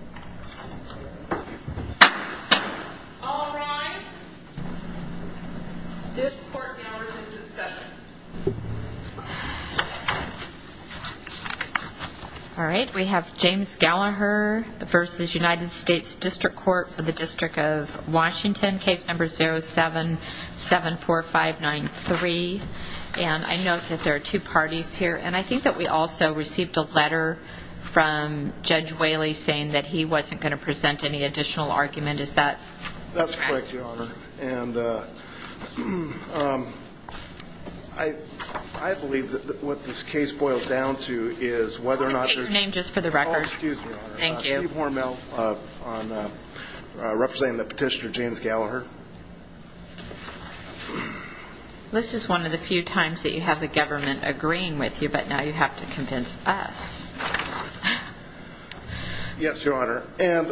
All rise. This court now returns in session. All right, we have James Gallaher versus United States District Court for the District of Washington, case number 0774593. And I note that there are two parties here, and I think that we also received a letter from Judge Whaley saying that he wasn't going to present any additional argument. Is that correct? That's correct, Your Honor. And I believe that what this case boils down to is whether or not there's... I'll just take your name just for the record. Oh, excuse me, Your Honor. Thank you. Steve Hormel, representing the petitioner James Gallaher. This is one of the few times that you have the government agreeing with you, but now you have to convince us. Yes, Your Honor. And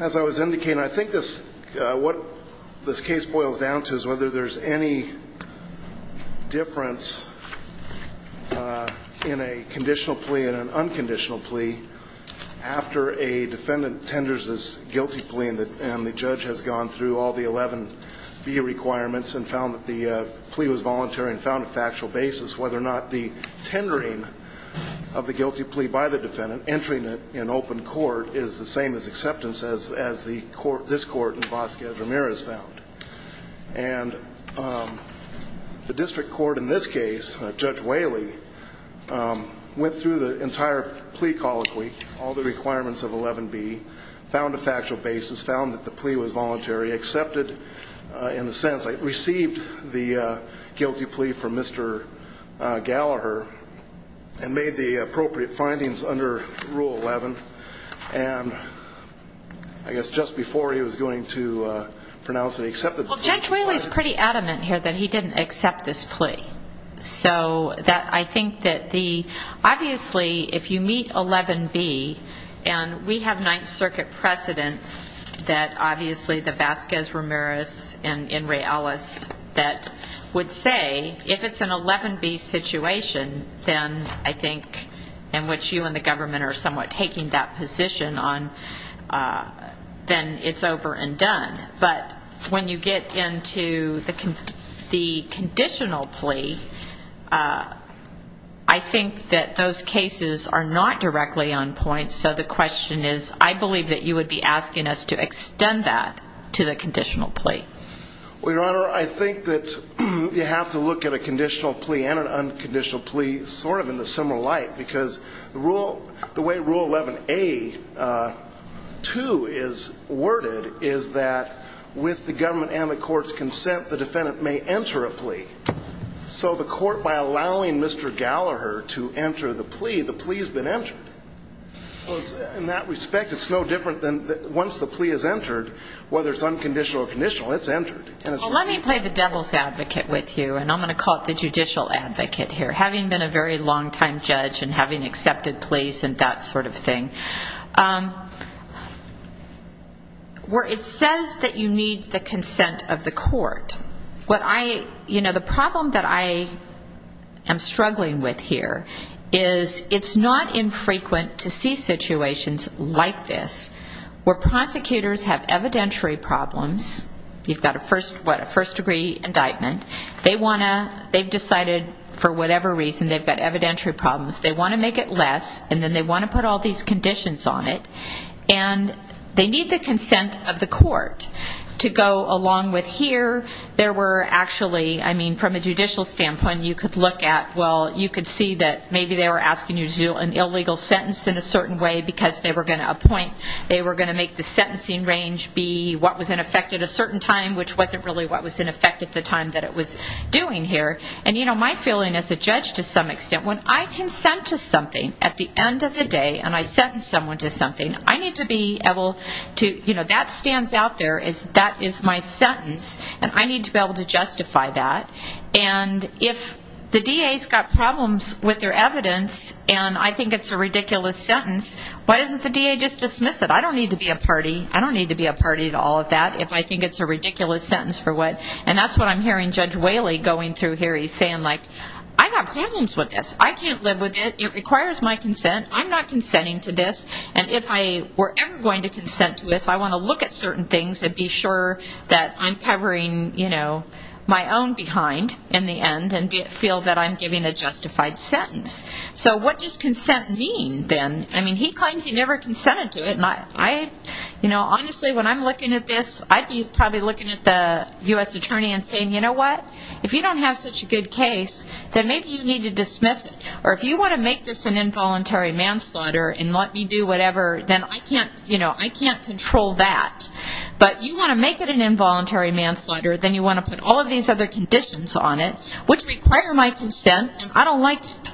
as I was indicating, I think what this case boils down to is whether there's any difference in a conditional plea and an unconditional plea after a defendant tenders this guilty plea and the judge has gone through all the 11B requirements and found that the plea was voluntary and found a factual basis, whether or not the tendering of the guilty plea by the defendant, entering it in open court, is the same as acceptance as this court in Vasquez Ramirez found. And the district court in this case, Judge Whaley, went through the entire plea colloquy, all the requirements of 11B, found a factual basis, found that the plea was voluntary, accepted in the sense that it received the guilty plea from Mr. Gallaher and made the appropriate findings under Rule 11. And I guess just before he was going to pronounce it, he accepted... Well, Judge Whaley is pretty adamant here that he didn't accept this plea. So that I think that the, obviously, if you meet 11B, and we have Ninth Circuit precedents that obviously the Vasquez Ramirez and Ray Ellis that would say if it's an 11B situation, then I think in which you and the government are somewhat taking that position on, then it's over and done. But when you get into the conditional plea, I think that those cases are not directly on point. So the question is, I believe that you would be asking us to extend that to the conditional plea. Well, Your Honor, I think that you have to look at a conditional plea and an unconditional plea sort of in the similar light, because the way Rule 11A.2 is worded is that with the government and the court's consent, the defendant may enter a plea. So the court, by allowing Mr. Gallaher to enter the plea, the plea has been entered. So in that respect, it's no different than once the plea is entered, whether it's unconditional or conditional, it's entered. Well, let me play the devil's advocate with you, and I'm going to call it the judicial advocate here, having been a very long-time judge and having accepted pleas and that sort of thing. Where it says that you need the consent of the court, what I, you know, the problem that I am struggling with here is it's not infrequent to see situations like this, where prosecutors have evidentiary problems. You've got a first, what, a first-degree indictment. They want to, they've decided for whatever reason they've got evidentiary problems. They want to make it less, and then they want to put all these conditions on it. And they need the consent of the court to go along with here. There were actually, I mean, from a judicial standpoint, you could look at, well, you could see that maybe they were asking you to do an illegal sentence in a certain way because they were going to appoint, they were going to make the sentencing range be what was in effect at a certain time, which wasn't really what was in effect at the time that it was doing here. And, you know, my feeling as a judge to some extent, when I consent to something at the end of the day and I sentence someone to something, I need to be able to, you know, that stands out there, that is my sentence, and I need to be able to justify that. And if the DA has got problems with their evidence and I think it's a ridiculous sentence, why doesn't the DA just dismiss it? I don't need to be a party. I don't need to be a party to all this sentence for what. And that's what I'm hearing Judge Whaley going through here. He's saying, like, I've got problems with this. I can't live with it. It requires my consent. I'm not consenting to this. And if I were ever going to consent to this, I want to look at certain things and be sure that I'm covering, you know, my own behind in the end and feel that I'm giving a justified sentence. So what does consent mean then? I mean, he claims he never consented to it. And I, you know, honestly, when I'm looking at this, I'd be probably looking at the U.S. Attorney and saying, you know what, if you don't have such a good case, then maybe you need to dismiss it. Or if you want to make this an involuntary manslaughter and let me do whatever, then I can't, you know, I can't control that. But you want to make it an involuntary manslaughter, then you want to put all of these other conditions on it, which require my consent, and I don't like it.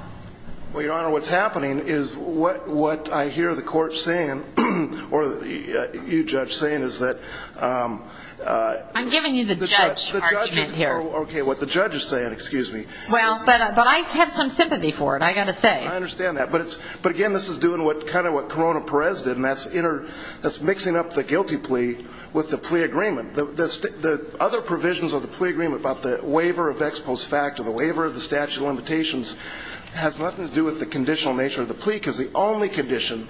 Well, Your Honor, what's happening is what I hear the court saying or you, Judge, saying is that... I'm giving you the judge argument here. Okay, what the judge is saying, excuse me. Well, but I have some sympathy for it, I've got to say. I understand that. But again, this is doing kind of what Corona Perez did, and that's mixing up the guilty plea with the plea agreement. The other provisions of the plea agreement about the waiver of ex post facto, the waiver of the statute of limitations, has nothing to do with the conditional nature of the plea because the only condition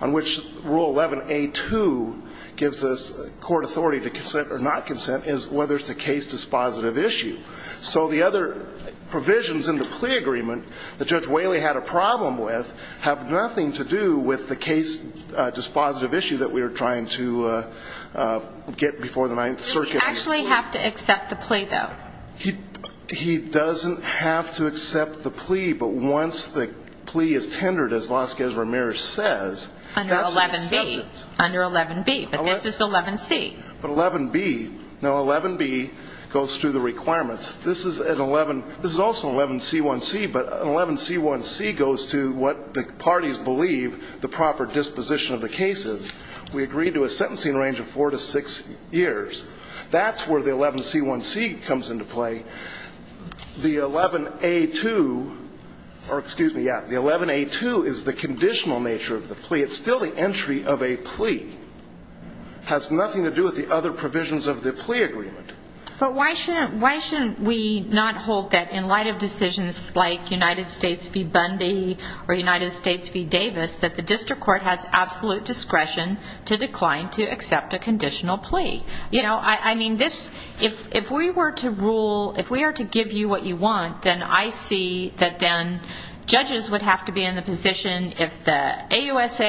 on which Rule 11 A2 gives us court authority to consent or not consent is whether it's a case dispositive issue. So the other provisions in the plea agreement that Judge Whaley had a problem with have nothing to do with the case dispositive issue that we were trying to get before the Ninth Circuit. Does he actually have to accept the plea, though? He doesn't have to accept the plea, but once the plea is tendered, as Vasquez Ramirez says... Under 11B. Under 11B. But this is 11C. But 11B, no, 11B goes through the requirements. This is an 11, this is also an 11C1C, but an 11C1C goes to what the parties believe the proper disposition of the case is. We agree to a sentencing range of 4 to 6 years. That's where the 11C1C comes into play. The 11A2, or excuse me, yeah, the 11A2 is the conditional nature of the plea. It's still the entry of a plea. Has nothing to do with the other provisions of the plea agreement. But why shouldn't we not hold that in light of decisions like United States v. Bundy or United States v. Davis that the district court has absolute discretion to decline to accept a conditional plea? You know, I mean, this, if we were to rule, if we were to give you what you want, then I see that then judges would have to be in the position if the AUSA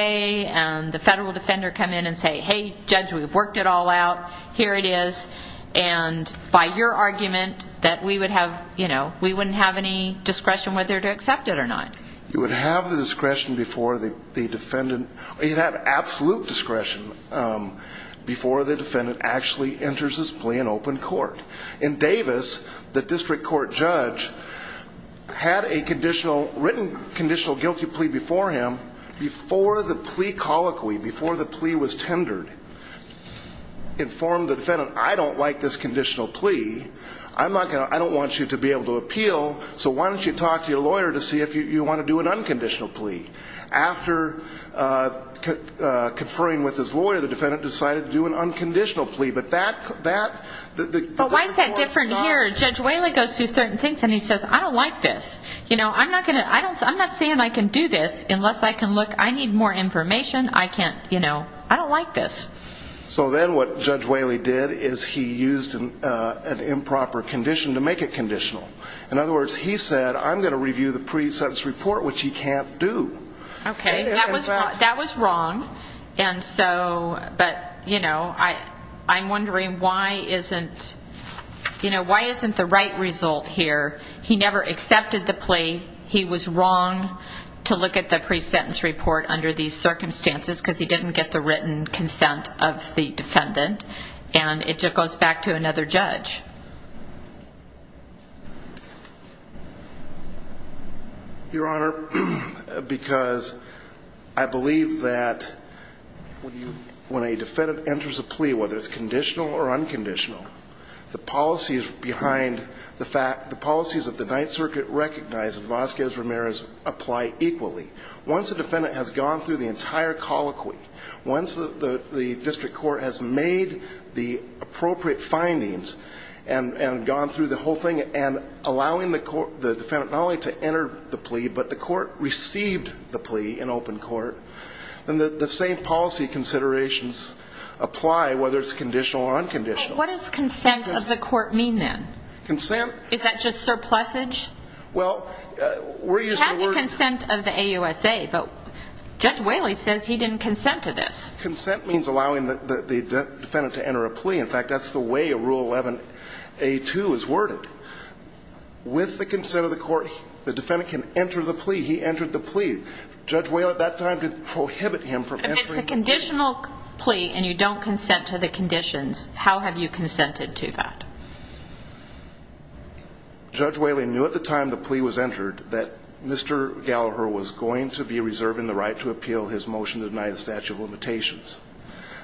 and the federal defender come in and say, hey, judge, we've worked it all out. Here it is. And by your argument that we would have, you know, we wouldn't have any discretion whether to accept it or not. You would have the discretion before the defendant, you'd have absolute discretion before the defendant actually enters this plea in open court. In Davis, the district court judge had a written conditional guilty plea before him before the plea colloquy, before the plea was tendered, informed the defendant, I don't like this conditional plea. I don't want you to be able to appeal, so why don't you talk to your lawyer to see if you want to do an unconditional plea. After conferring with his lawyer, the defendant decided to do an unconditional plea. But why is that different here? Judge Whaley goes through certain things and he says, I don't like this. I'm not saying I can do this unless I can look, I need more information, I can't, you know, I don't like this. So then what Judge Whaley did is he used an improper condition to make it conditional. In other words, he said, I'm going to review the pre-sentence report, which he can't do. Okay, that was wrong. And so, but, you know, I'm wondering why isn't, you know, why isn't the right result here? He never accepted the plea. He was wrong to look at the pre-sentence report under these circumstances because he didn't get the written consent of the defendant. And it goes back to another judge. Your Honor, because I believe that when a defendant enters a plea, whether it's conditional or unconditional, the policies behind the fact, the policies of the Ninth Circuit recognize that Vasquez-Ramirez apply equally. Once a defendant has gone through the entire colloquy, once the district court has made the appropriate findings, and gone through the whole thing, and allowing the defendant not only to enter the plea, but the court received the plea in open court, then the same policy considerations apply whether it's conditional or unconditional. What does consent of the court mean then? Consent? Is that just surplusage? Well, we're using the word... He had the consent of the AUSA, but Judge Whaley says he didn't consent to this. Consent means allowing the defendant to enter a plea. In fact, that's the way a Rule 11A2 is worded. With the consent of the court, the defendant can enter the plea. He entered the plea. Judge Whaley at that time did prohibit him from entering the plea. If it's a conditional plea and you don't consent to the conditions, how have you consented to that? Judge Whaley knew at the time the plea was entered that Mr. Gallagher was going to be reserving the right to appeal his motion to deny the statute of limitations.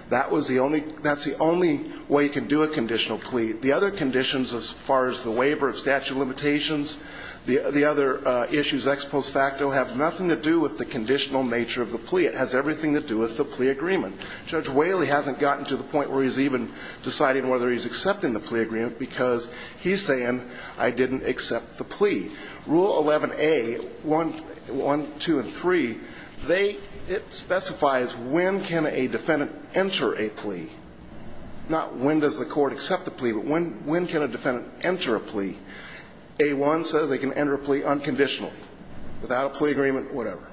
That's the only way you can do a conditional plea. The other conditions as far as the waiver of statute of limitations, the other issues ex post facto have nothing to do with the conditional nature of the plea. It has everything to do with the plea agreement. Judge Whaley hasn't gotten to the point where he's even deciding whether he's accepting the plea agreement because he's saying I didn't accept the plea. Rule 11A, 1, 2, and 3, they, it specifies when can a defendant enter a plea. Not when does the court accept the plea, but when can a defendant enter a plea. A1 says they can enter a plea unconditionally, without a plea agreement, whatever.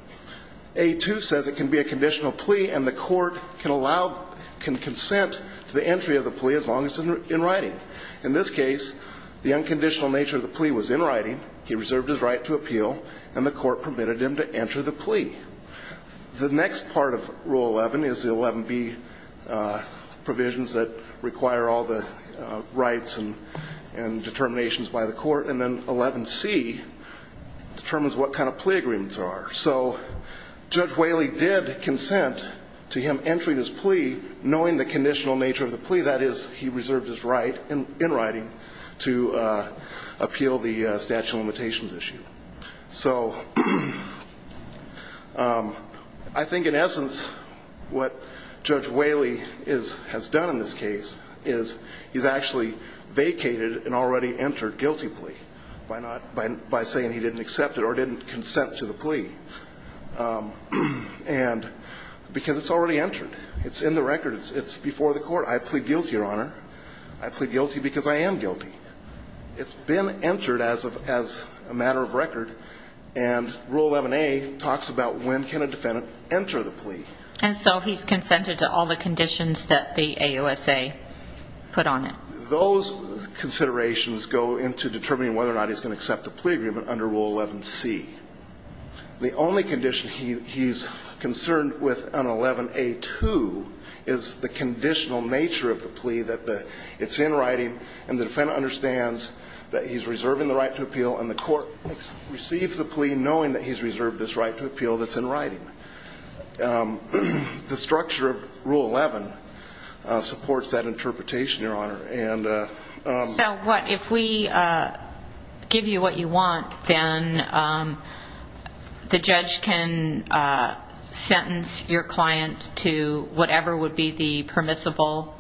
A2 says it can be a conditional plea and the court can allow, can consent to the entry of the plea as long as it's in writing. In this case, the unconditional nature of the plea was in writing. He reserved his right to appeal and the court permitted him to enter the plea. The next part of Rule 11 is the 11B provisions that require all the rights and determinations by the court. And then 11C determines what kind of plea agreements there are. So Judge Whaley did consent to him entering his plea knowing the conditional nature of the plea. Only that is he reserved his right in writing to appeal the statute of limitations issue. So I think in essence what Judge Whaley has done in this case is he's actually vacated an already entered guilty plea by saying he didn't accept it or didn't consent to the plea because it's already entered. It's in the record. It's before the court. I plead guilty, Your Honor. I plead guilty because I am guilty. It's been entered as a matter of record, and Rule 11A talks about when can a defendant enter the plea. And so he's consented to all the conditions that the AUSA put on it. Those considerations go into determining whether or not he's going to accept the plea agreement under Rule 11C. The only condition he's concerned with on 11A2 is the conditional nature of the plea that it's in writing and the defendant understands that he's reserving the right to appeal and the court receives the plea knowing that he's reserved this right to appeal that's in writing. The structure of Rule 11 supports that interpretation, Your Honor. So what, if we give you what you want, then the judge can sentence your client to whatever would be the permissible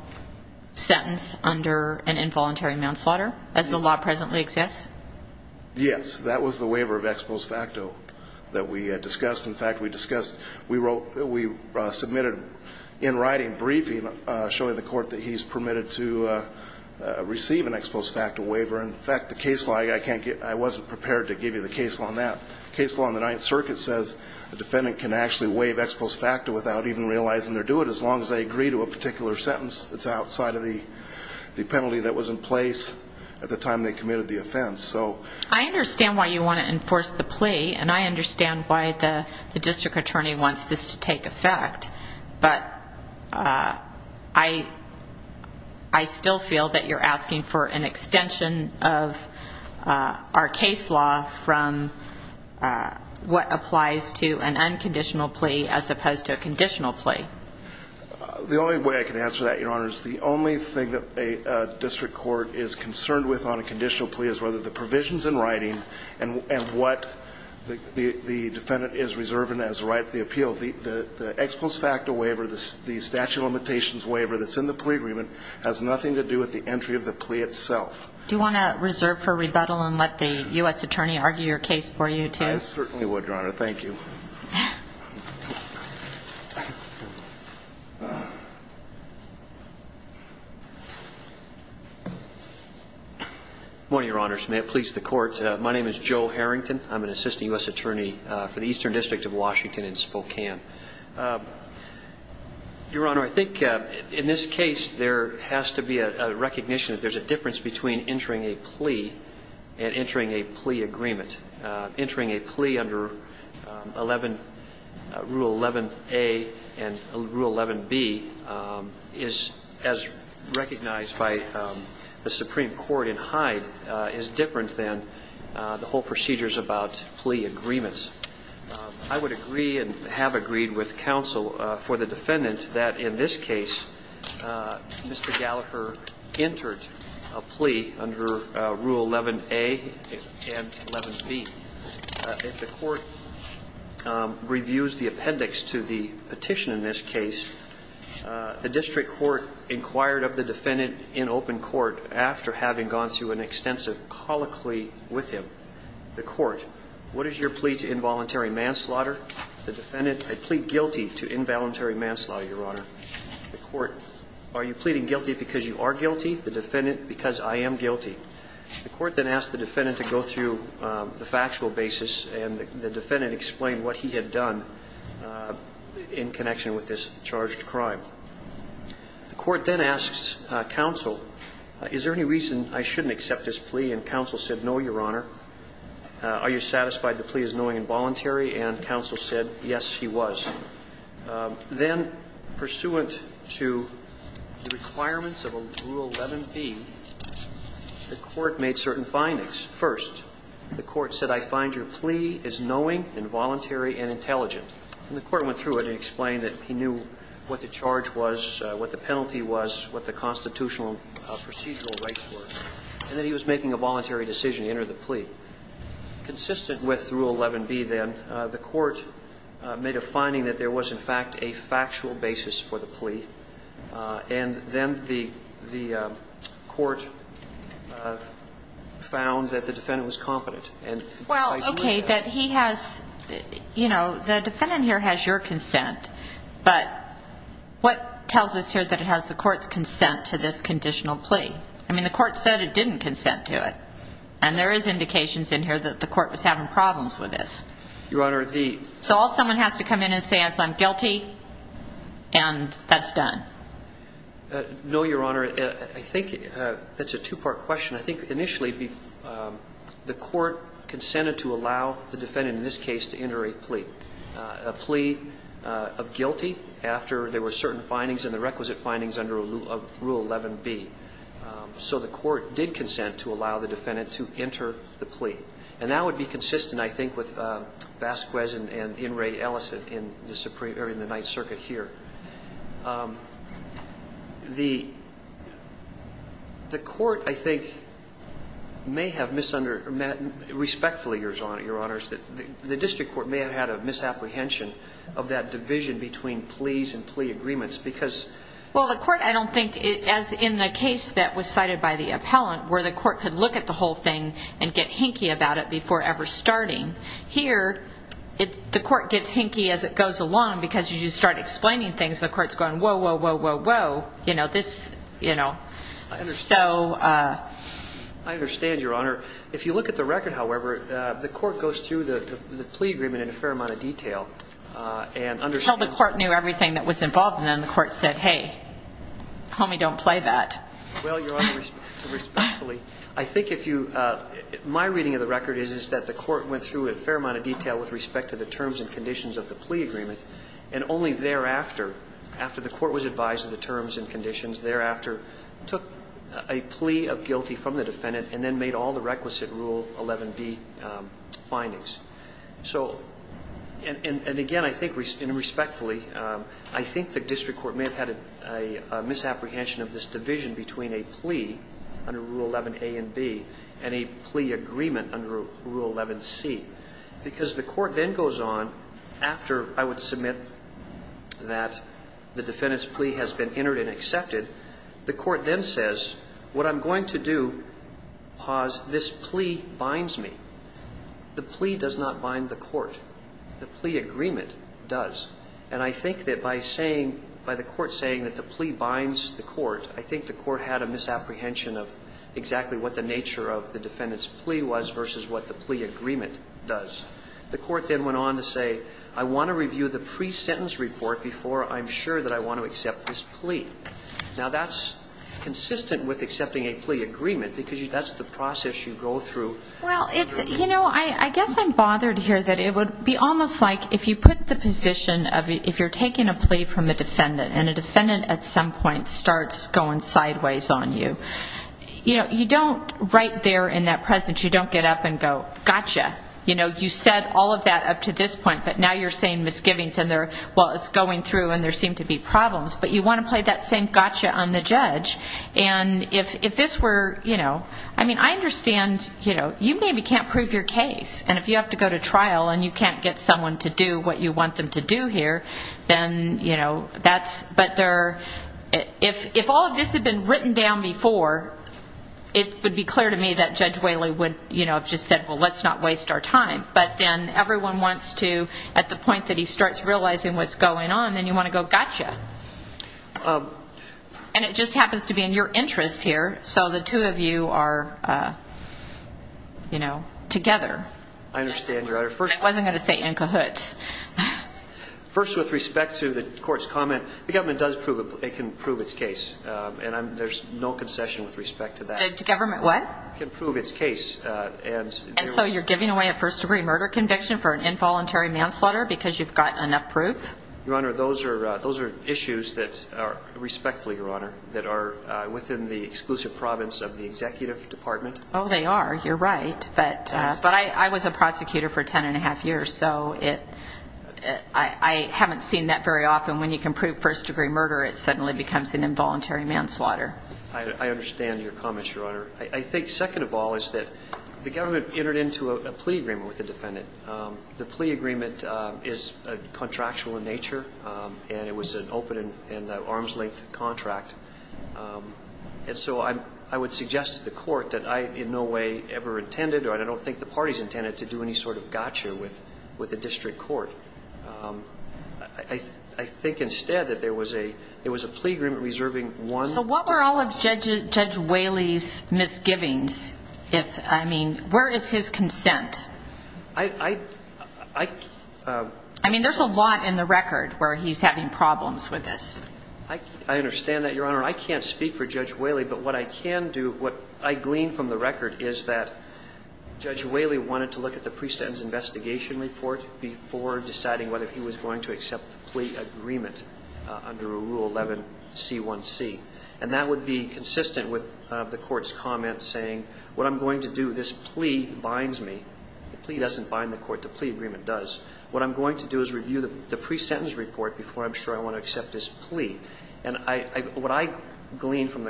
sentence under an involuntary manslaughter as the law presently exists? Yes. That was the waiver of ex post facto that we discussed. In fact, we discussed, we submitted in writing briefing showing the court that he's permitted to receive an ex post facto waiver. In fact, the case law, I wasn't prepared to give you the case law on that. The case law on the Ninth Circuit says a defendant can actually waive ex post facto without even realizing they're doing it as long as they agree to a particular sentence. It's outside of the penalty that was in place at the time they committed the offense. I understand why you want to enforce the plea and I understand why the district attorney wants this to take effect, but I still feel that you're asking for an extension of our case law from what applies to an unconditional plea as opposed to a conditional plea. The only way I can answer that, Your Honor, is the only thing that a district court is concerned with on a conditional plea is whether the provisions in writing and what the defendant is reserving as the right of the appeal. The ex post facto waiver, the statute of limitations waiver that's in the plea agreement has nothing to do with the entry of the plea itself. Do you want to reserve for rebuttal and let the U.S. attorney argue your case for you, too? I certainly would, Your Honor. Thank you. Good morning, Your Honors. May it please the court. My name is Joe Harrington. I'm an assistant U.S. attorney for the Eastern District of Washington in Spokane. Your Honor, I think in this case there has to be a recognition that there's a difference between entering a plea and entering a plea agreement. Rule 11A and Rule 11B is, as recognized by the Supreme Court in Hyde, is different than the whole procedures about plea agreements. I would agree and have agreed with counsel for the defendant that in this case Mr. Gallagher entered a plea under Rule 11A and 11B. If the court reviews the appendix to the petition in this case, the district court inquired of the defendant in open court after having gone through an extensive colloquy with him. The court, what is your plea to involuntary manslaughter? The defendant, I plead guilty to involuntary manslaughter, Your Honor. The court, are you pleading guilty because you are guilty? The defendant, because I am guilty. The court then asked the defendant to go through the factual basis and the defendant explained what he had done in connection with this charged crime. The court then asks counsel, is there any reason I shouldn't accept this plea? And counsel said, no, Your Honor. Are you satisfied the plea is knowing involuntary? And counsel said, yes, he was. Then, pursuant to the requirements of Rule 11B, the court made certain findings. First, the court said, I find your plea is knowing, involuntary, and intelligent. And the court went through it and explained that he knew what the charge was, what the penalty was, what the constitutional procedural rights were. And that he was making a voluntary decision to enter the plea. Consistent with Rule 11B, then, the court made a finding that there was, in fact, a factual basis for the plea. And then the court found that the defendant was competent. Well, okay, that he has, you know, the defendant here has your consent. But what tells us here that it has the court's consent to this conditional plea? I mean, the court said it didn't consent to it. And there is indications in here that the court was having problems with this. Your Honor, the ---- So all someone has to come in and say is, I'm guilty, and that's done. No, Your Honor. I think that's a two-part question. I think, initially, the court consented to allow the defendant, in this case, to enter a plea, a plea of guilty after there were certain findings and the requisite findings under Rule 11B. So the court did consent to allow the defendant to enter the plea. And that would be consistent, I think, with Vasquez and Inouye Ellison in the Supreme ---- or in the Ninth Circuit here. The court, I think, may have misunderstood ---- respectfully, Your Honor, the district court may have had a misapprehension of that division between pleas and plea agreements because ---- Well, the court, I don't think, as in the case that was cited by the appellant, where the court could look at the whole thing and get hinky about it before ever starting, here the court gets hinky as it goes along because as you start explaining things, the court is going, whoa, whoa, whoa, whoa, whoa, you know, this, you know, so ---- I understand, Your Honor. If you look at the record, however, the court goes through the plea agreement in a fair amount of detail and understands ---- Tell me don't play that. Well, Your Honor, respectfully, I think if you ---- my reading of the record is that the court went through in a fair amount of detail with respect to the terms and conditions of the plea agreement, and only thereafter, after the court was advised of the terms and conditions, thereafter took a plea of guilty from the defendant and then made all the requisite Rule 11b findings. So, and again, I think, and respectfully, I think the district court may have had a misapprehension of this division between a plea under Rule 11a and b and a plea agreement under Rule 11c, because the court then goes on, after I would submit that the defendant's plea has been entered and accepted, the court then says, what I'm going to do, pause, this plea binds me. The plea does not bind the court. The plea agreement does. And I think that by saying, by the court saying that the plea binds the court, I think the court had a misapprehension of exactly what the nature of the defendant's plea was versus what the plea agreement does. The court then went on to say, I want to review the pre-sentence report before I'm sure that I want to accept this plea. Now, that's consistent with accepting a plea agreement, because that's the process you go through. Well, it's, you know, I guess I'm bothered here that it would be almost like if you put the position of, if you're taking a plea from a defendant and a defendant at some point starts going sideways on you, you know, you don't right there in that presence, you don't get up and go, gotcha. You know, you said all of that up to this point, but now you're saying misgivings and they're, well, it's going through and there seem to be problems. But you want to play that same gotcha on the judge. And if this were, you know, I mean, I understand, you know, you maybe can't prove your case, and if you have to go to trial and you can't get someone to do what you want them to do here, then, you know, that's, but they're, if all of this had been written down before, it would be clear to me that Judge Whaley would, you know, have just said, well, let's not waste our time. But then everyone wants to, at the point that he starts realizing what's going on, then you want to go, gotcha. And it just happens to be in your interest here, so the two of you are, you know, together. I understand, Your Honor. I wasn't going to say in cahoots. First, with respect to the court's comment, the government does prove it can prove its case, and there's no concession with respect to that. Government what? Can prove its case. And so you're giving away a first-degree murder conviction for an involuntary manslaughter because you've got enough proof? Your Honor, those are issues that are, respectfully, Your Honor, that are within the exclusive province of the executive department. Oh, they are. You're right. But I was a prosecutor for 10 1⁄2 years, so I haven't seen that very often. When you can prove first-degree murder, it suddenly becomes an involuntary manslaughter. I understand your comments, Your Honor. I think second of all is that the government entered into a plea agreement with the defendant. The plea agreement is contractual in nature, and it was an open and arm's-length contract. And so I would suggest to the court that I in no way ever intended or I don't think the parties intended to do any sort of gotcha with the district court. I think instead that there was a plea agreement reserving one. So what were all of Judge Whaley's misgivings? I mean, where is his consent? I mean, there's a lot in the record where he's having problems with this. I understand that, Your Honor. I can't speak for Judge Whaley, but what I can do, what I glean from the record, is that Judge Whaley wanted to look at the pre-sentence investigation report before deciding whether he was going to accept the plea agreement under Rule 11C1C. And that would be consistent with the court's comment saying, what I'm going to do, this plea binds me. The plea doesn't bind the court. The plea agreement does. What I'm going to do is review the pre-sentence report before I'm sure I want to accept this plea. And what I glean from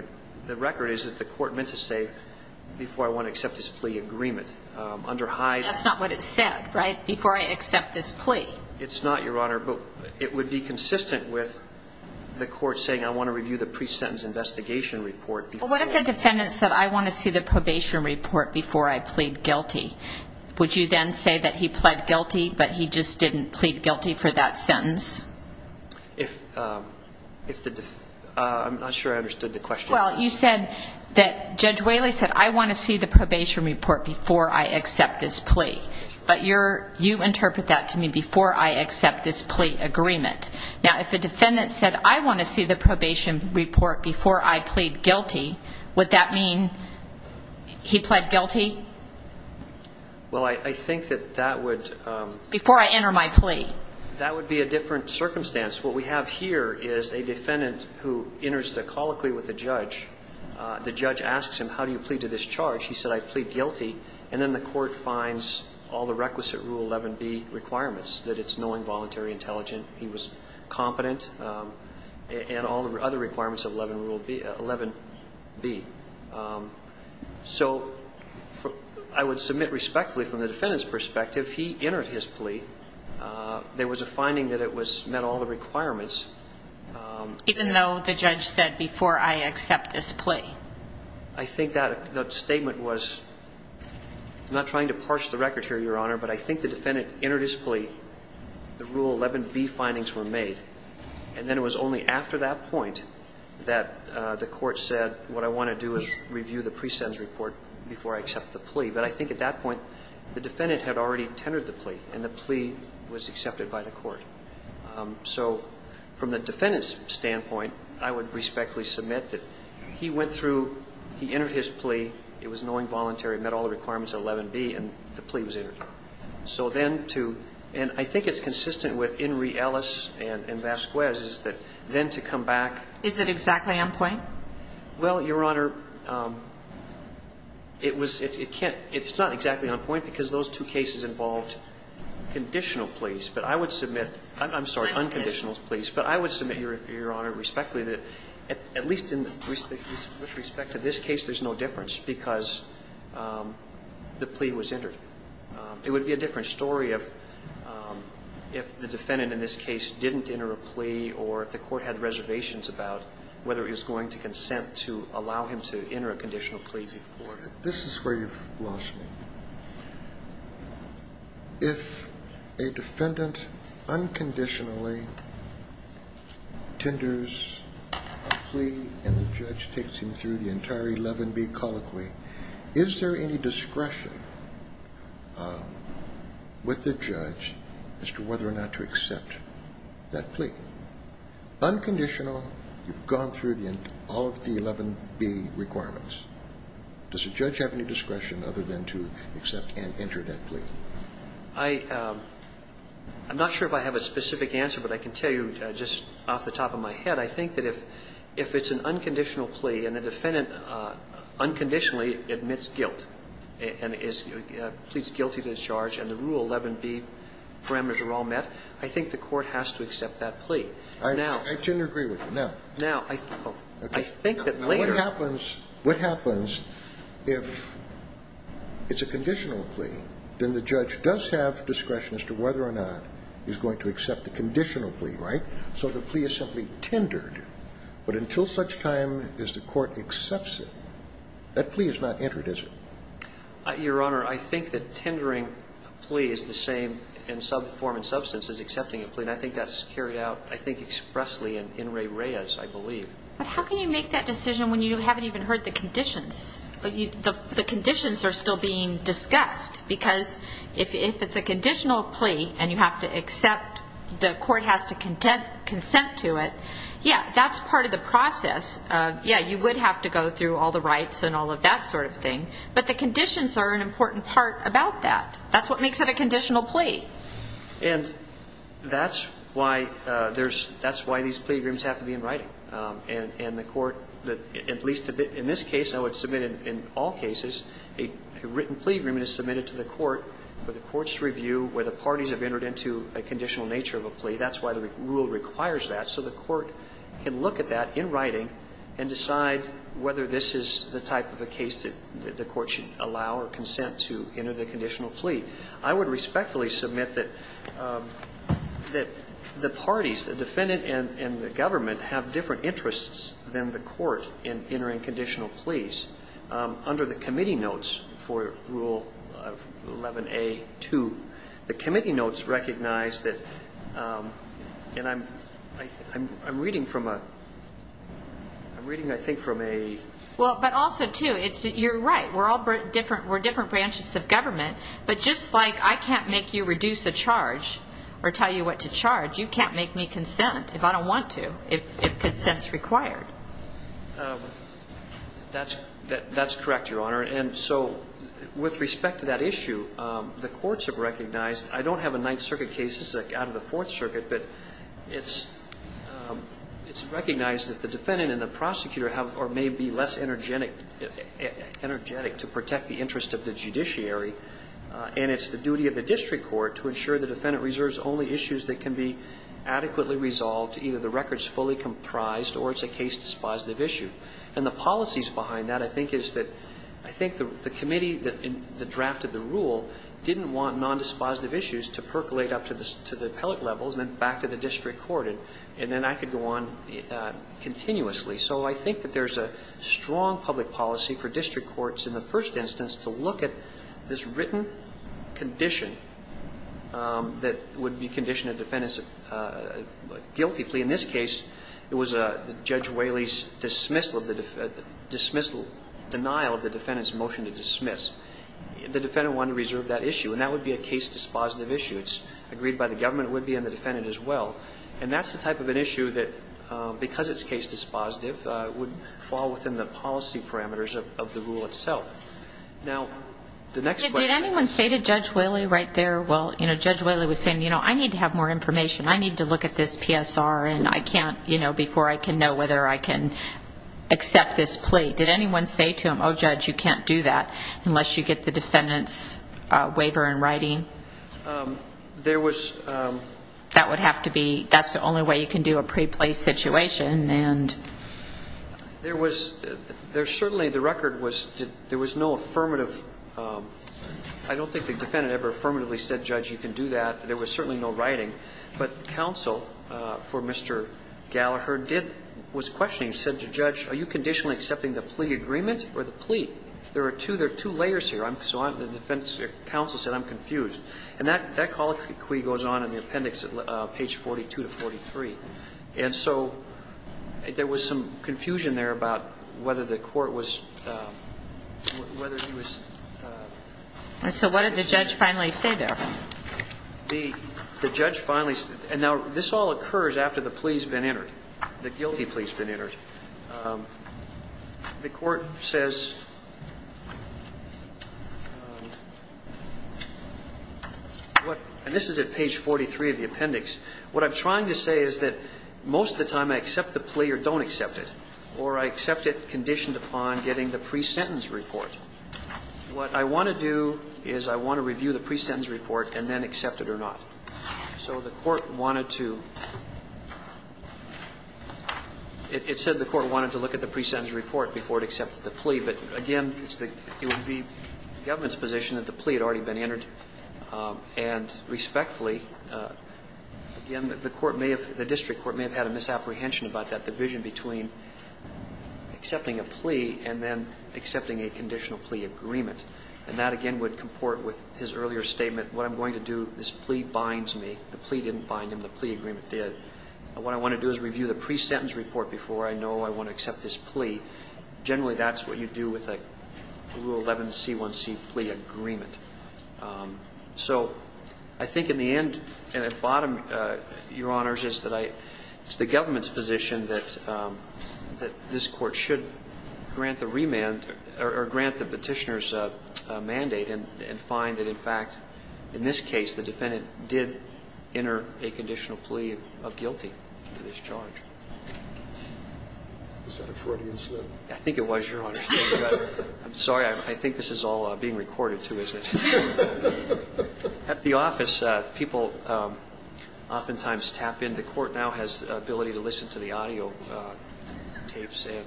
the record is that the court meant to say, before I want to accept this plea agreement, under High. That's not what it said, right, before I accept this plea. It's not, Your Honor. But it would be consistent with the court saying, I want to review the pre-sentence investigation report before. Well, what if the defendant said, I want to see the probation report before I plead guilty? Would you then say that he pled guilty, but he just didn't plead guilty for that sentence? I'm not sure I understood the question. Well, you said that Judge Whaley said, I want to see the probation report before I accept this plea. But you interpret that to me before I accept this plea agreement. Now, if the defendant said, I want to see the probation report before I plead guilty, would that mean he pled guilty before I enter my plea? That would be a different circumstance. What we have here is a defendant who enters the colloquy with the judge. The judge asks him, how do you plead to this charge? He said, I plead guilty. And then the court finds all the requisite Rule 11B requirements, that it's knowing, voluntary, intelligent, he was competent, and all the other requirements of Rule 11B. So I would submit respectfully from the defendant's perspective, he entered his plea. There was a finding that it met all the requirements. Even though the judge said, before I accept this plea? I think that statement was, I'm not trying to parse the record here, Your Honor, but I think the defendant entered his plea, the Rule 11B findings were made, and then it was only after that point that the court said, what I want to do is review the pre-sentence report before I accept the plea. But I think at that point the defendant had already tendered the plea, and the plea was accepted by the court. So from the defendant's standpoint, I would respectfully submit that he went through, he entered his plea, it was knowing, voluntary, he met all the requirements of 11B, and the plea was entered. So then to, and I think it's consistent with Inree Ellis and Vasquez, is that then to come back. Is it exactly on point? Well, Your Honor, it was, it can't, it's not exactly on point because those two cases involved conditional pleas, but I would submit, I'm sorry, unconditional pleas, but I would submit, Your Honor, respectfully, that at least in respect to this case, there's no difference because the plea was entered. It would be a different story if the defendant in this case didn't enter a plea or if the court had reservations about whether it was going to consent to allow him to enter a conditional plea before. This is where you've lost me. If a defendant unconditionally tenders a plea and the judge takes him through the entire 11B colloquy, is there any discretion with the judge as to whether or not to accept that plea? Unconditional, you've gone through all of the 11B requirements. Does the judge have any discretion other than to accept and enter that plea? I'm not sure if I have a specific answer, but I can tell you just off the top of my head, if a defendant unconditionally admits guilt and pleads guilty to the charge and the Rule 11B parameters are all met, I think the court has to accept that plea. Now ---- I generally agree with you. Now ---- Now, I think that later ---- What happens if it's a conditional plea? Then the judge does have discretion as to whether or not he's going to accept the conditional plea, right? So the plea is simply tendered. But until such time as the court accepts it, that plea is not entered, is it? Your Honor, I think that tendering a plea is the same in some form and substance as accepting a plea. And I think that's carried out, I think, expressly in Ray Reyes, I believe. But how can you make that decision when you haven't even heard the conditions? The conditions are still being discussed. Because if it's a conditional plea and you have to accept, the court has to contend and consent to it, yeah, that's part of the process. Yeah, you would have to go through all the rights and all of that sort of thing. But the conditions are an important part about that. That's what makes it a conditional plea. And that's why there's ---- that's why these plea agreements have to be in writing. And the court, at least in this case, I would submit in all cases, a written plea agreement is submitted to the court for the court's review where the parties have entered into a conditional nature of a plea. That's why the rule requires that. So the court can look at that in writing and decide whether this is the type of a case that the court should allow or consent to enter the conditional plea. I would respectfully submit that the parties, the defendant and the government, have different interests than the court in entering conditional pleas. Under the committee notes for Rule 11a.2, the committee notes recognize that the And I'm reading from a ---- I'm reading, I think, from a ---- Well, but also, too, you're right. We're all different branches of government. But just like I can't make you reduce a charge or tell you what to charge, you can't make me consent if I don't want to, if consent is required. That's correct, Your Honor. And so with respect to that issue, the courts have recognized. I don't have a Ninth Circuit case. This is out of the Fourth Circuit. But it's recognized that the defendant and the prosecutor have or may be less energetic to protect the interest of the judiciary. And it's the duty of the district court to ensure the defendant reserves only issues that can be adequately resolved, either the record is fully comprised or it's a case dispositive issue. And the policies behind that, I think, is that I think the committee that drafted the rule didn't want nondispositive issues to percolate up to the appellate levels and then back to the district court. And then I could go on continuously. So I think that there's a strong public policy for district courts in the first instance to look at this written condition that would be conditioned a defendant's guilty plea. In this case, it was Judge Whaley's dismissal of the ---- the defendant wanted to reserve that issue. And that would be a case dispositive issue. It's agreed by the government. It would be on the defendant as well. And that's the type of an issue that, because it's case dispositive, would fall within the policy parameters of the rule itself. Now, the next question ---- Did anyone say to Judge Whaley right there, well, you know, Judge Whaley was saying, you know, I need to have more information. I need to look at this PSR and I can't, you know, before I can know whether I can accept this plea. Did anyone say to him, oh, Judge, you can't do that unless you get the defendant's waiver in writing? There was ---- That would have to be ---- that's the only way you can do a pre-place situation. And ---- There was certainly the record was there was no affirmative ---- I don't think the defendant ever affirmatively said, Judge, you can do that. There was certainly no writing. But counsel for Mr. Gallaher did ---- was questioning. He said to Judge, are you conditionally accepting the plea agreement or the plea? There are two layers here. So the defense counsel said, I'm confused. And that colloquy goes on in the appendix at page 42 to 43. And so there was some confusion there about whether the court was ---- So what did the judge finally say there? The judge finally ---- and now this all occurs after the plea has been entered, the guilty plea has been entered. The court says what ---- and this is at page 43 of the appendix. What I'm trying to say is that most of the time I accept the plea or don't accept it, or I accept it conditioned upon getting the pre-sentence report. What I want to do is I want to review the pre-sentence report and then accept it or not. So the court wanted to ---- it said the court wanted to look at the pre-sentence report before it accepted the plea. But, again, it's the ---- it would be the government's position that the plea had already been entered. And respectfully, again, the court may have ---- the district court may have had a misapprehension about that division between accepting a plea and then accepting a conditional plea agreement. And that, again, would comport with his earlier statement. What I'm going to do, this plea binds me. The plea didn't bind him. The plea agreement did. What I want to do is review the pre-sentence report before I know I want to accept this plea. Generally, that's what you do with a Rule 11C1C plea agreement. So I think in the end, at bottom, Your Honors, is that I ---- it's the government's position that this court should grant the remand or grant the Petitioner's mandate and find that, in fact, in this case, the defendant did enter a conditional plea of guilty to this charge. Is that a Freudian slip? I think it was, Your Honors. I'm sorry. I think this is all being recorded, too, isn't it? At the office, people oftentimes tap in. The court now has the ability to listen to the audio tapes. And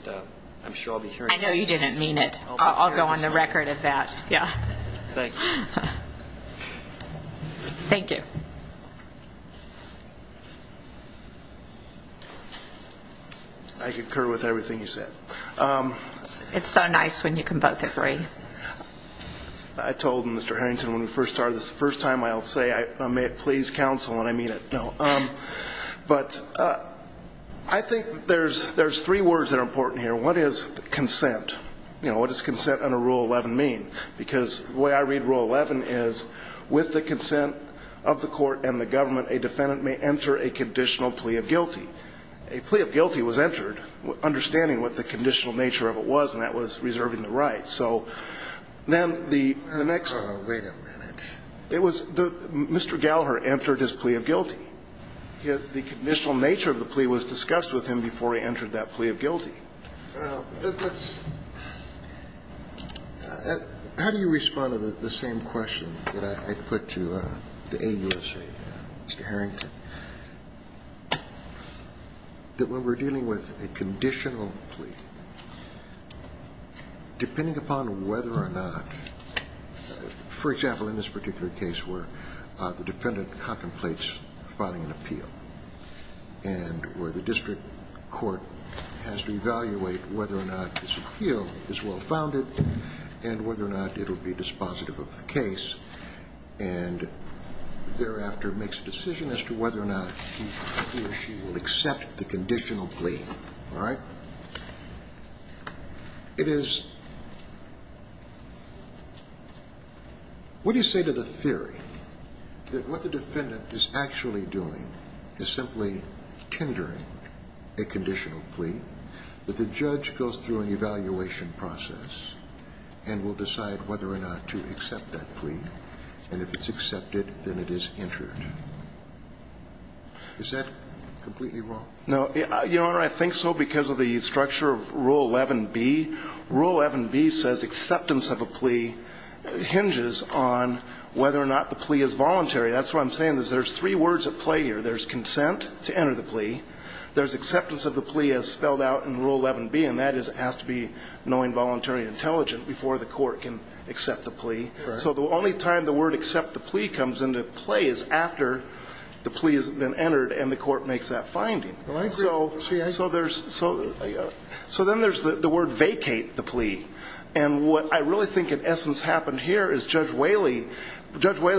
I'm sure I'll be hearing ---- I know you didn't mean it. I'll go on the record of that. Yeah. Thank you. Thank you. I concur with everything you said. It's so nice when you can both agree. I told Mr. Harrington when we first started this, the first time I'll say, please counsel, and I mean it. But I think there's three words that are important here. One is consent. You know, what does consent under Rule 11 mean? Because the way I read Rule 11 is, with the consent of the court and the government, a defendant may enter a conditional plea of guilty. A plea of guilty was entered, understanding what the conditional nature of it was, and that was reserving the right. So then the next ---- Wait a minute. It was the ---- Mr. Gallagher entered his plea of guilty. The conditional nature of the plea was discussed with him before he entered that plea of guilty. How do you respond to the same question that I put to the AUSA, Mr. Harrington? That when we're dealing with a conditional plea, depending upon whether or not, for example, in this particular case where the defendant contemplates filing an appeal and where the district court has to evaluate whether or not this appeal is well-founded and whether or not it will be dispositive of the case, and thereafter makes a decision as to whether or not he or she will accept the conditional plea, all right, it is What do you say to the theory that what the defendant is actually doing is simply tendering a conditional plea, that the judge goes through an evaluation process and will decide whether or not to accept that plea, and if it's accepted, then it is entered? Is that completely wrong? No. Your Honor, I think so because of the structure of Rule 11b. Rule 11b says acceptance of a plea hinges on whether or not the plea is voluntary. That's what I'm saying is there's three words at play here. There's consent to enter the plea. There's acceptance of the plea as spelled out in Rule 11b, and that is it has to be knowing, voluntary, and intelligent before the court can accept the plea. So the only time the word accept the plea comes into play is after the plea has been entered and the court makes that finding. So then there's the word vacate the plea, and what I really think in essence happened here is Judge Whaley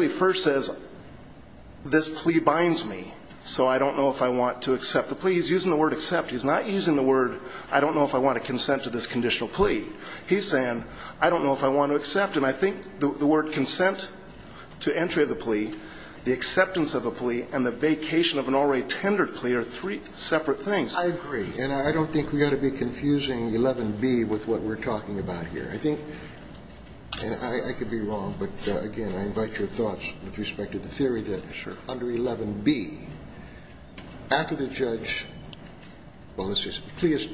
first says this plea binds me, so I don't know if I want to accept the plea. He's using the word accept. He's not using the word I don't know if I want to consent to this conditional plea. He's saying I don't know if I want to accept, and I think the word consent to entry of the plea, the acceptance of the plea, and the vacation of an already separate thing. I agree, and I don't think we ought to be confusing 11b with what we're talking about here. I think, and I could be wrong, but again, I invite your thoughts with respect to the theory that under 11b, after the judge, well, this is a plea is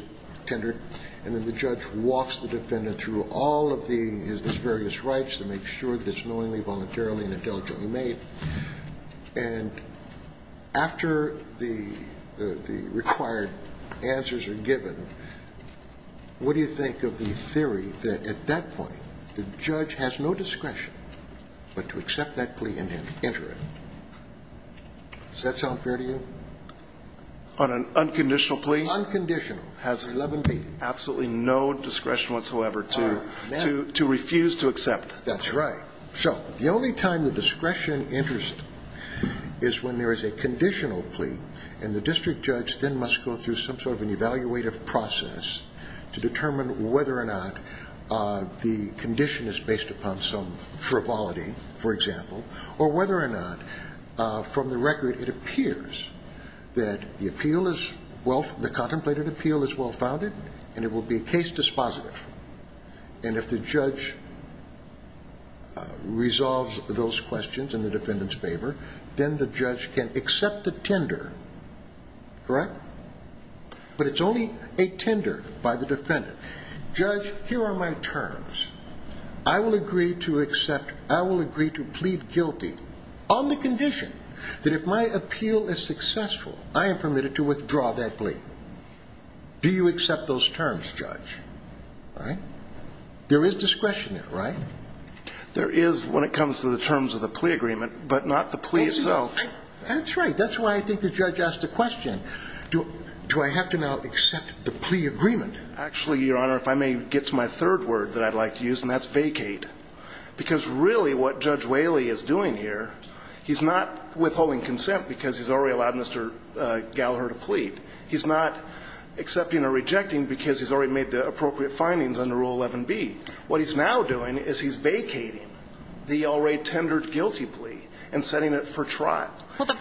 tendered, and then the judge walks the defendant through all of his various rights to make sure that it's knowingly, voluntarily, and intelligently made, and after the defendant has made all of the required answers are given, what do you think of the theory that at that point, the judge has no discretion but to accept that plea and enter it? Does that sound fair to you? On an unconditional plea? Unconditional. Has 11b. Absolutely no discretion whatsoever to refuse to accept. That's right. So the only time the discretion enters is when there is a conditional plea, and the district judge then must go through some sort of an evaluative process to determine whether or not the condition is based upon some frivolity, for example, or whether or not from the record it appears that the appeal is well, the contemplated appeal is well founded, and it will be case dispositive, and if the judge resolves those questions in the defendant's favor, then the judge can accept the tender, correct? But it's only a tender by the defendant. Judge, here are my terms. I will agree to accept, I will agree to plead guilty on the condition that if my appeal is successful, I am permitted to withdraw that plea. Do you accept those terms, judge? All right? There is discretion there, right? There is when it comes to the terms of the plea agreement, but not the plea itself. That's right. That's why I think the judge asked the question, do I have to now accept the plea agreement? Actually, Your Honor, if I may get to my third word that I'd like to use, and that's vacate. Because really what Judge Whaley is doing here, he's not withholding consent because he's already allowed Mr. Gallaher to plead. He's not accepting or rejecting because he's already made the appropriate findings under Rule 11b. What he's now doing is he's vacating the already tendered guilty plea and setting it for trial. But the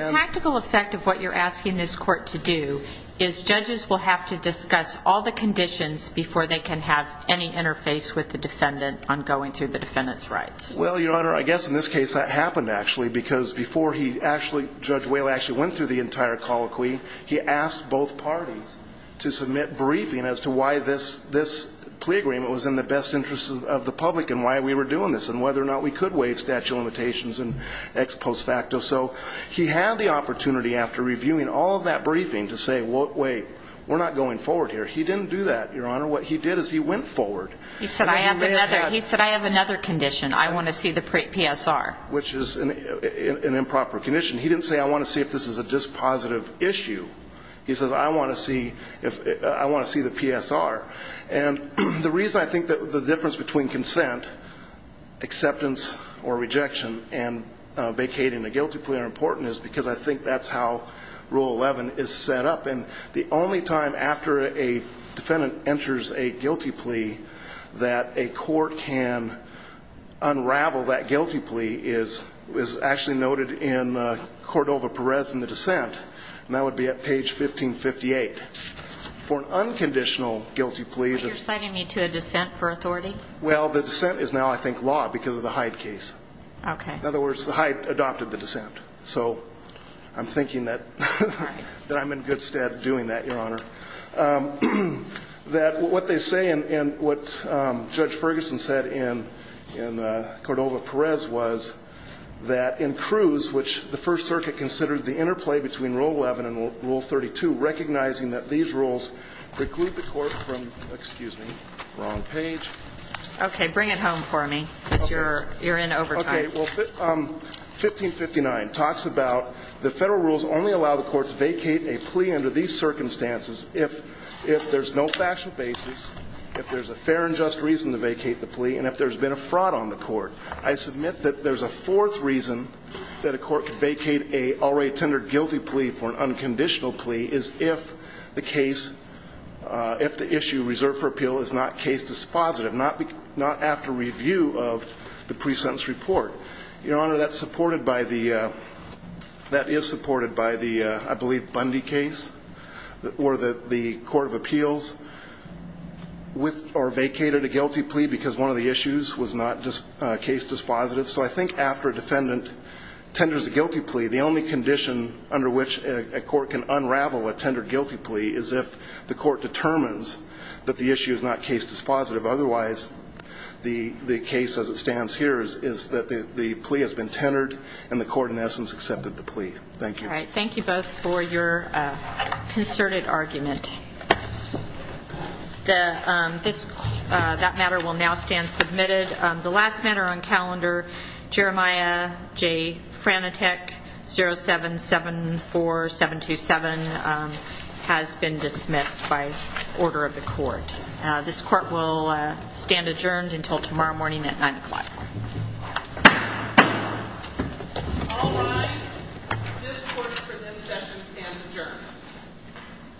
practical effect of what you're asking this court to do is judges will have to discuss all the conditions before they can have any interface with the defendant on going through the defendant's rights. Well, Your Honor, I guess in this case that happened, actually, because before he actually, Judge Whaley actually went through the entire colloquy, he asked both parties to submit briefing as to why this plea agreement was in the best interest of the public and why we were doing this and whether or not we could have made statute of limitations and ex post facto. So he had the opportunity after reviewing all of that briefing to say, wait, we're not going forward here. He didn't do that, Your Honor. What he did is he went forward. He said, I have another condition. I want to see the PSR. Which is an improper condition. He didn't say, I want to see if this is a dispositive issue. He said, I want to see the PSR. And the reason I think that the difference between consent, acceptance or rejection, and vacating a guilty plea are important is because I think that's how Rule 11 is set up. And the only time after a defendant enters a guilty plea that a court can unravel that guilty plea is actually noted in Cordova-Perez in the dissent. And that would be at page 1558. For an unconditional guilty plea. You're citing me to a dissent for authority? Well, the dissent is now, I think, law because of the Hyde case. Okay. In other words, the Hyde adopted the dissent. So I'm thinking that I'm in good stead of doing that, Your Honor. That what they say and what Judge Ferguson said in Cordova-Perez was that in Cruz, which the First Circuit considered the interplay between Rule 11 and Rule 32, recognizing that these rules preclude the court from, excuse me, wrong page. Okay. Bring it home for me because you're in overtime. Okay. Well, 1559 talks about the Federal rules only allow the courts to vacate a plea under these circumstances if there's no factual basis, if there's a fair and just reason to vacate the plea, and if there's been a fraud on the court. I submit that there's a fourth reason that a court could vacate an already guilty plea is if the case, if the issue reserved for appeal is not case dispositive, not after review of the pre-sentence report. Your Honor, that's supported by the, that is supported by the, I believe, Bundy case or the court of appeals with or vacated a guilty plea because one of the issues was not case dispositive. So I think after a defendant tenders a guilty plea, the only condition under which a court can unravel a tendered guilty plea is if the court determines that the issue is not case dispositive. Otherwise, the case as it stands here is that the plea has been tendered and the court in essence accepted the plea. Thank you. All right. Thank you both for your concerted argument. The, this, that matter will now stand submitted. The last matter on calendar, Jeremiah J. Franateck, 0774727, has been dismissed by order of the court. This court will stand adjourned until tomorrow morning at 9 o'clock. All rise. This court for this session stands adjourned.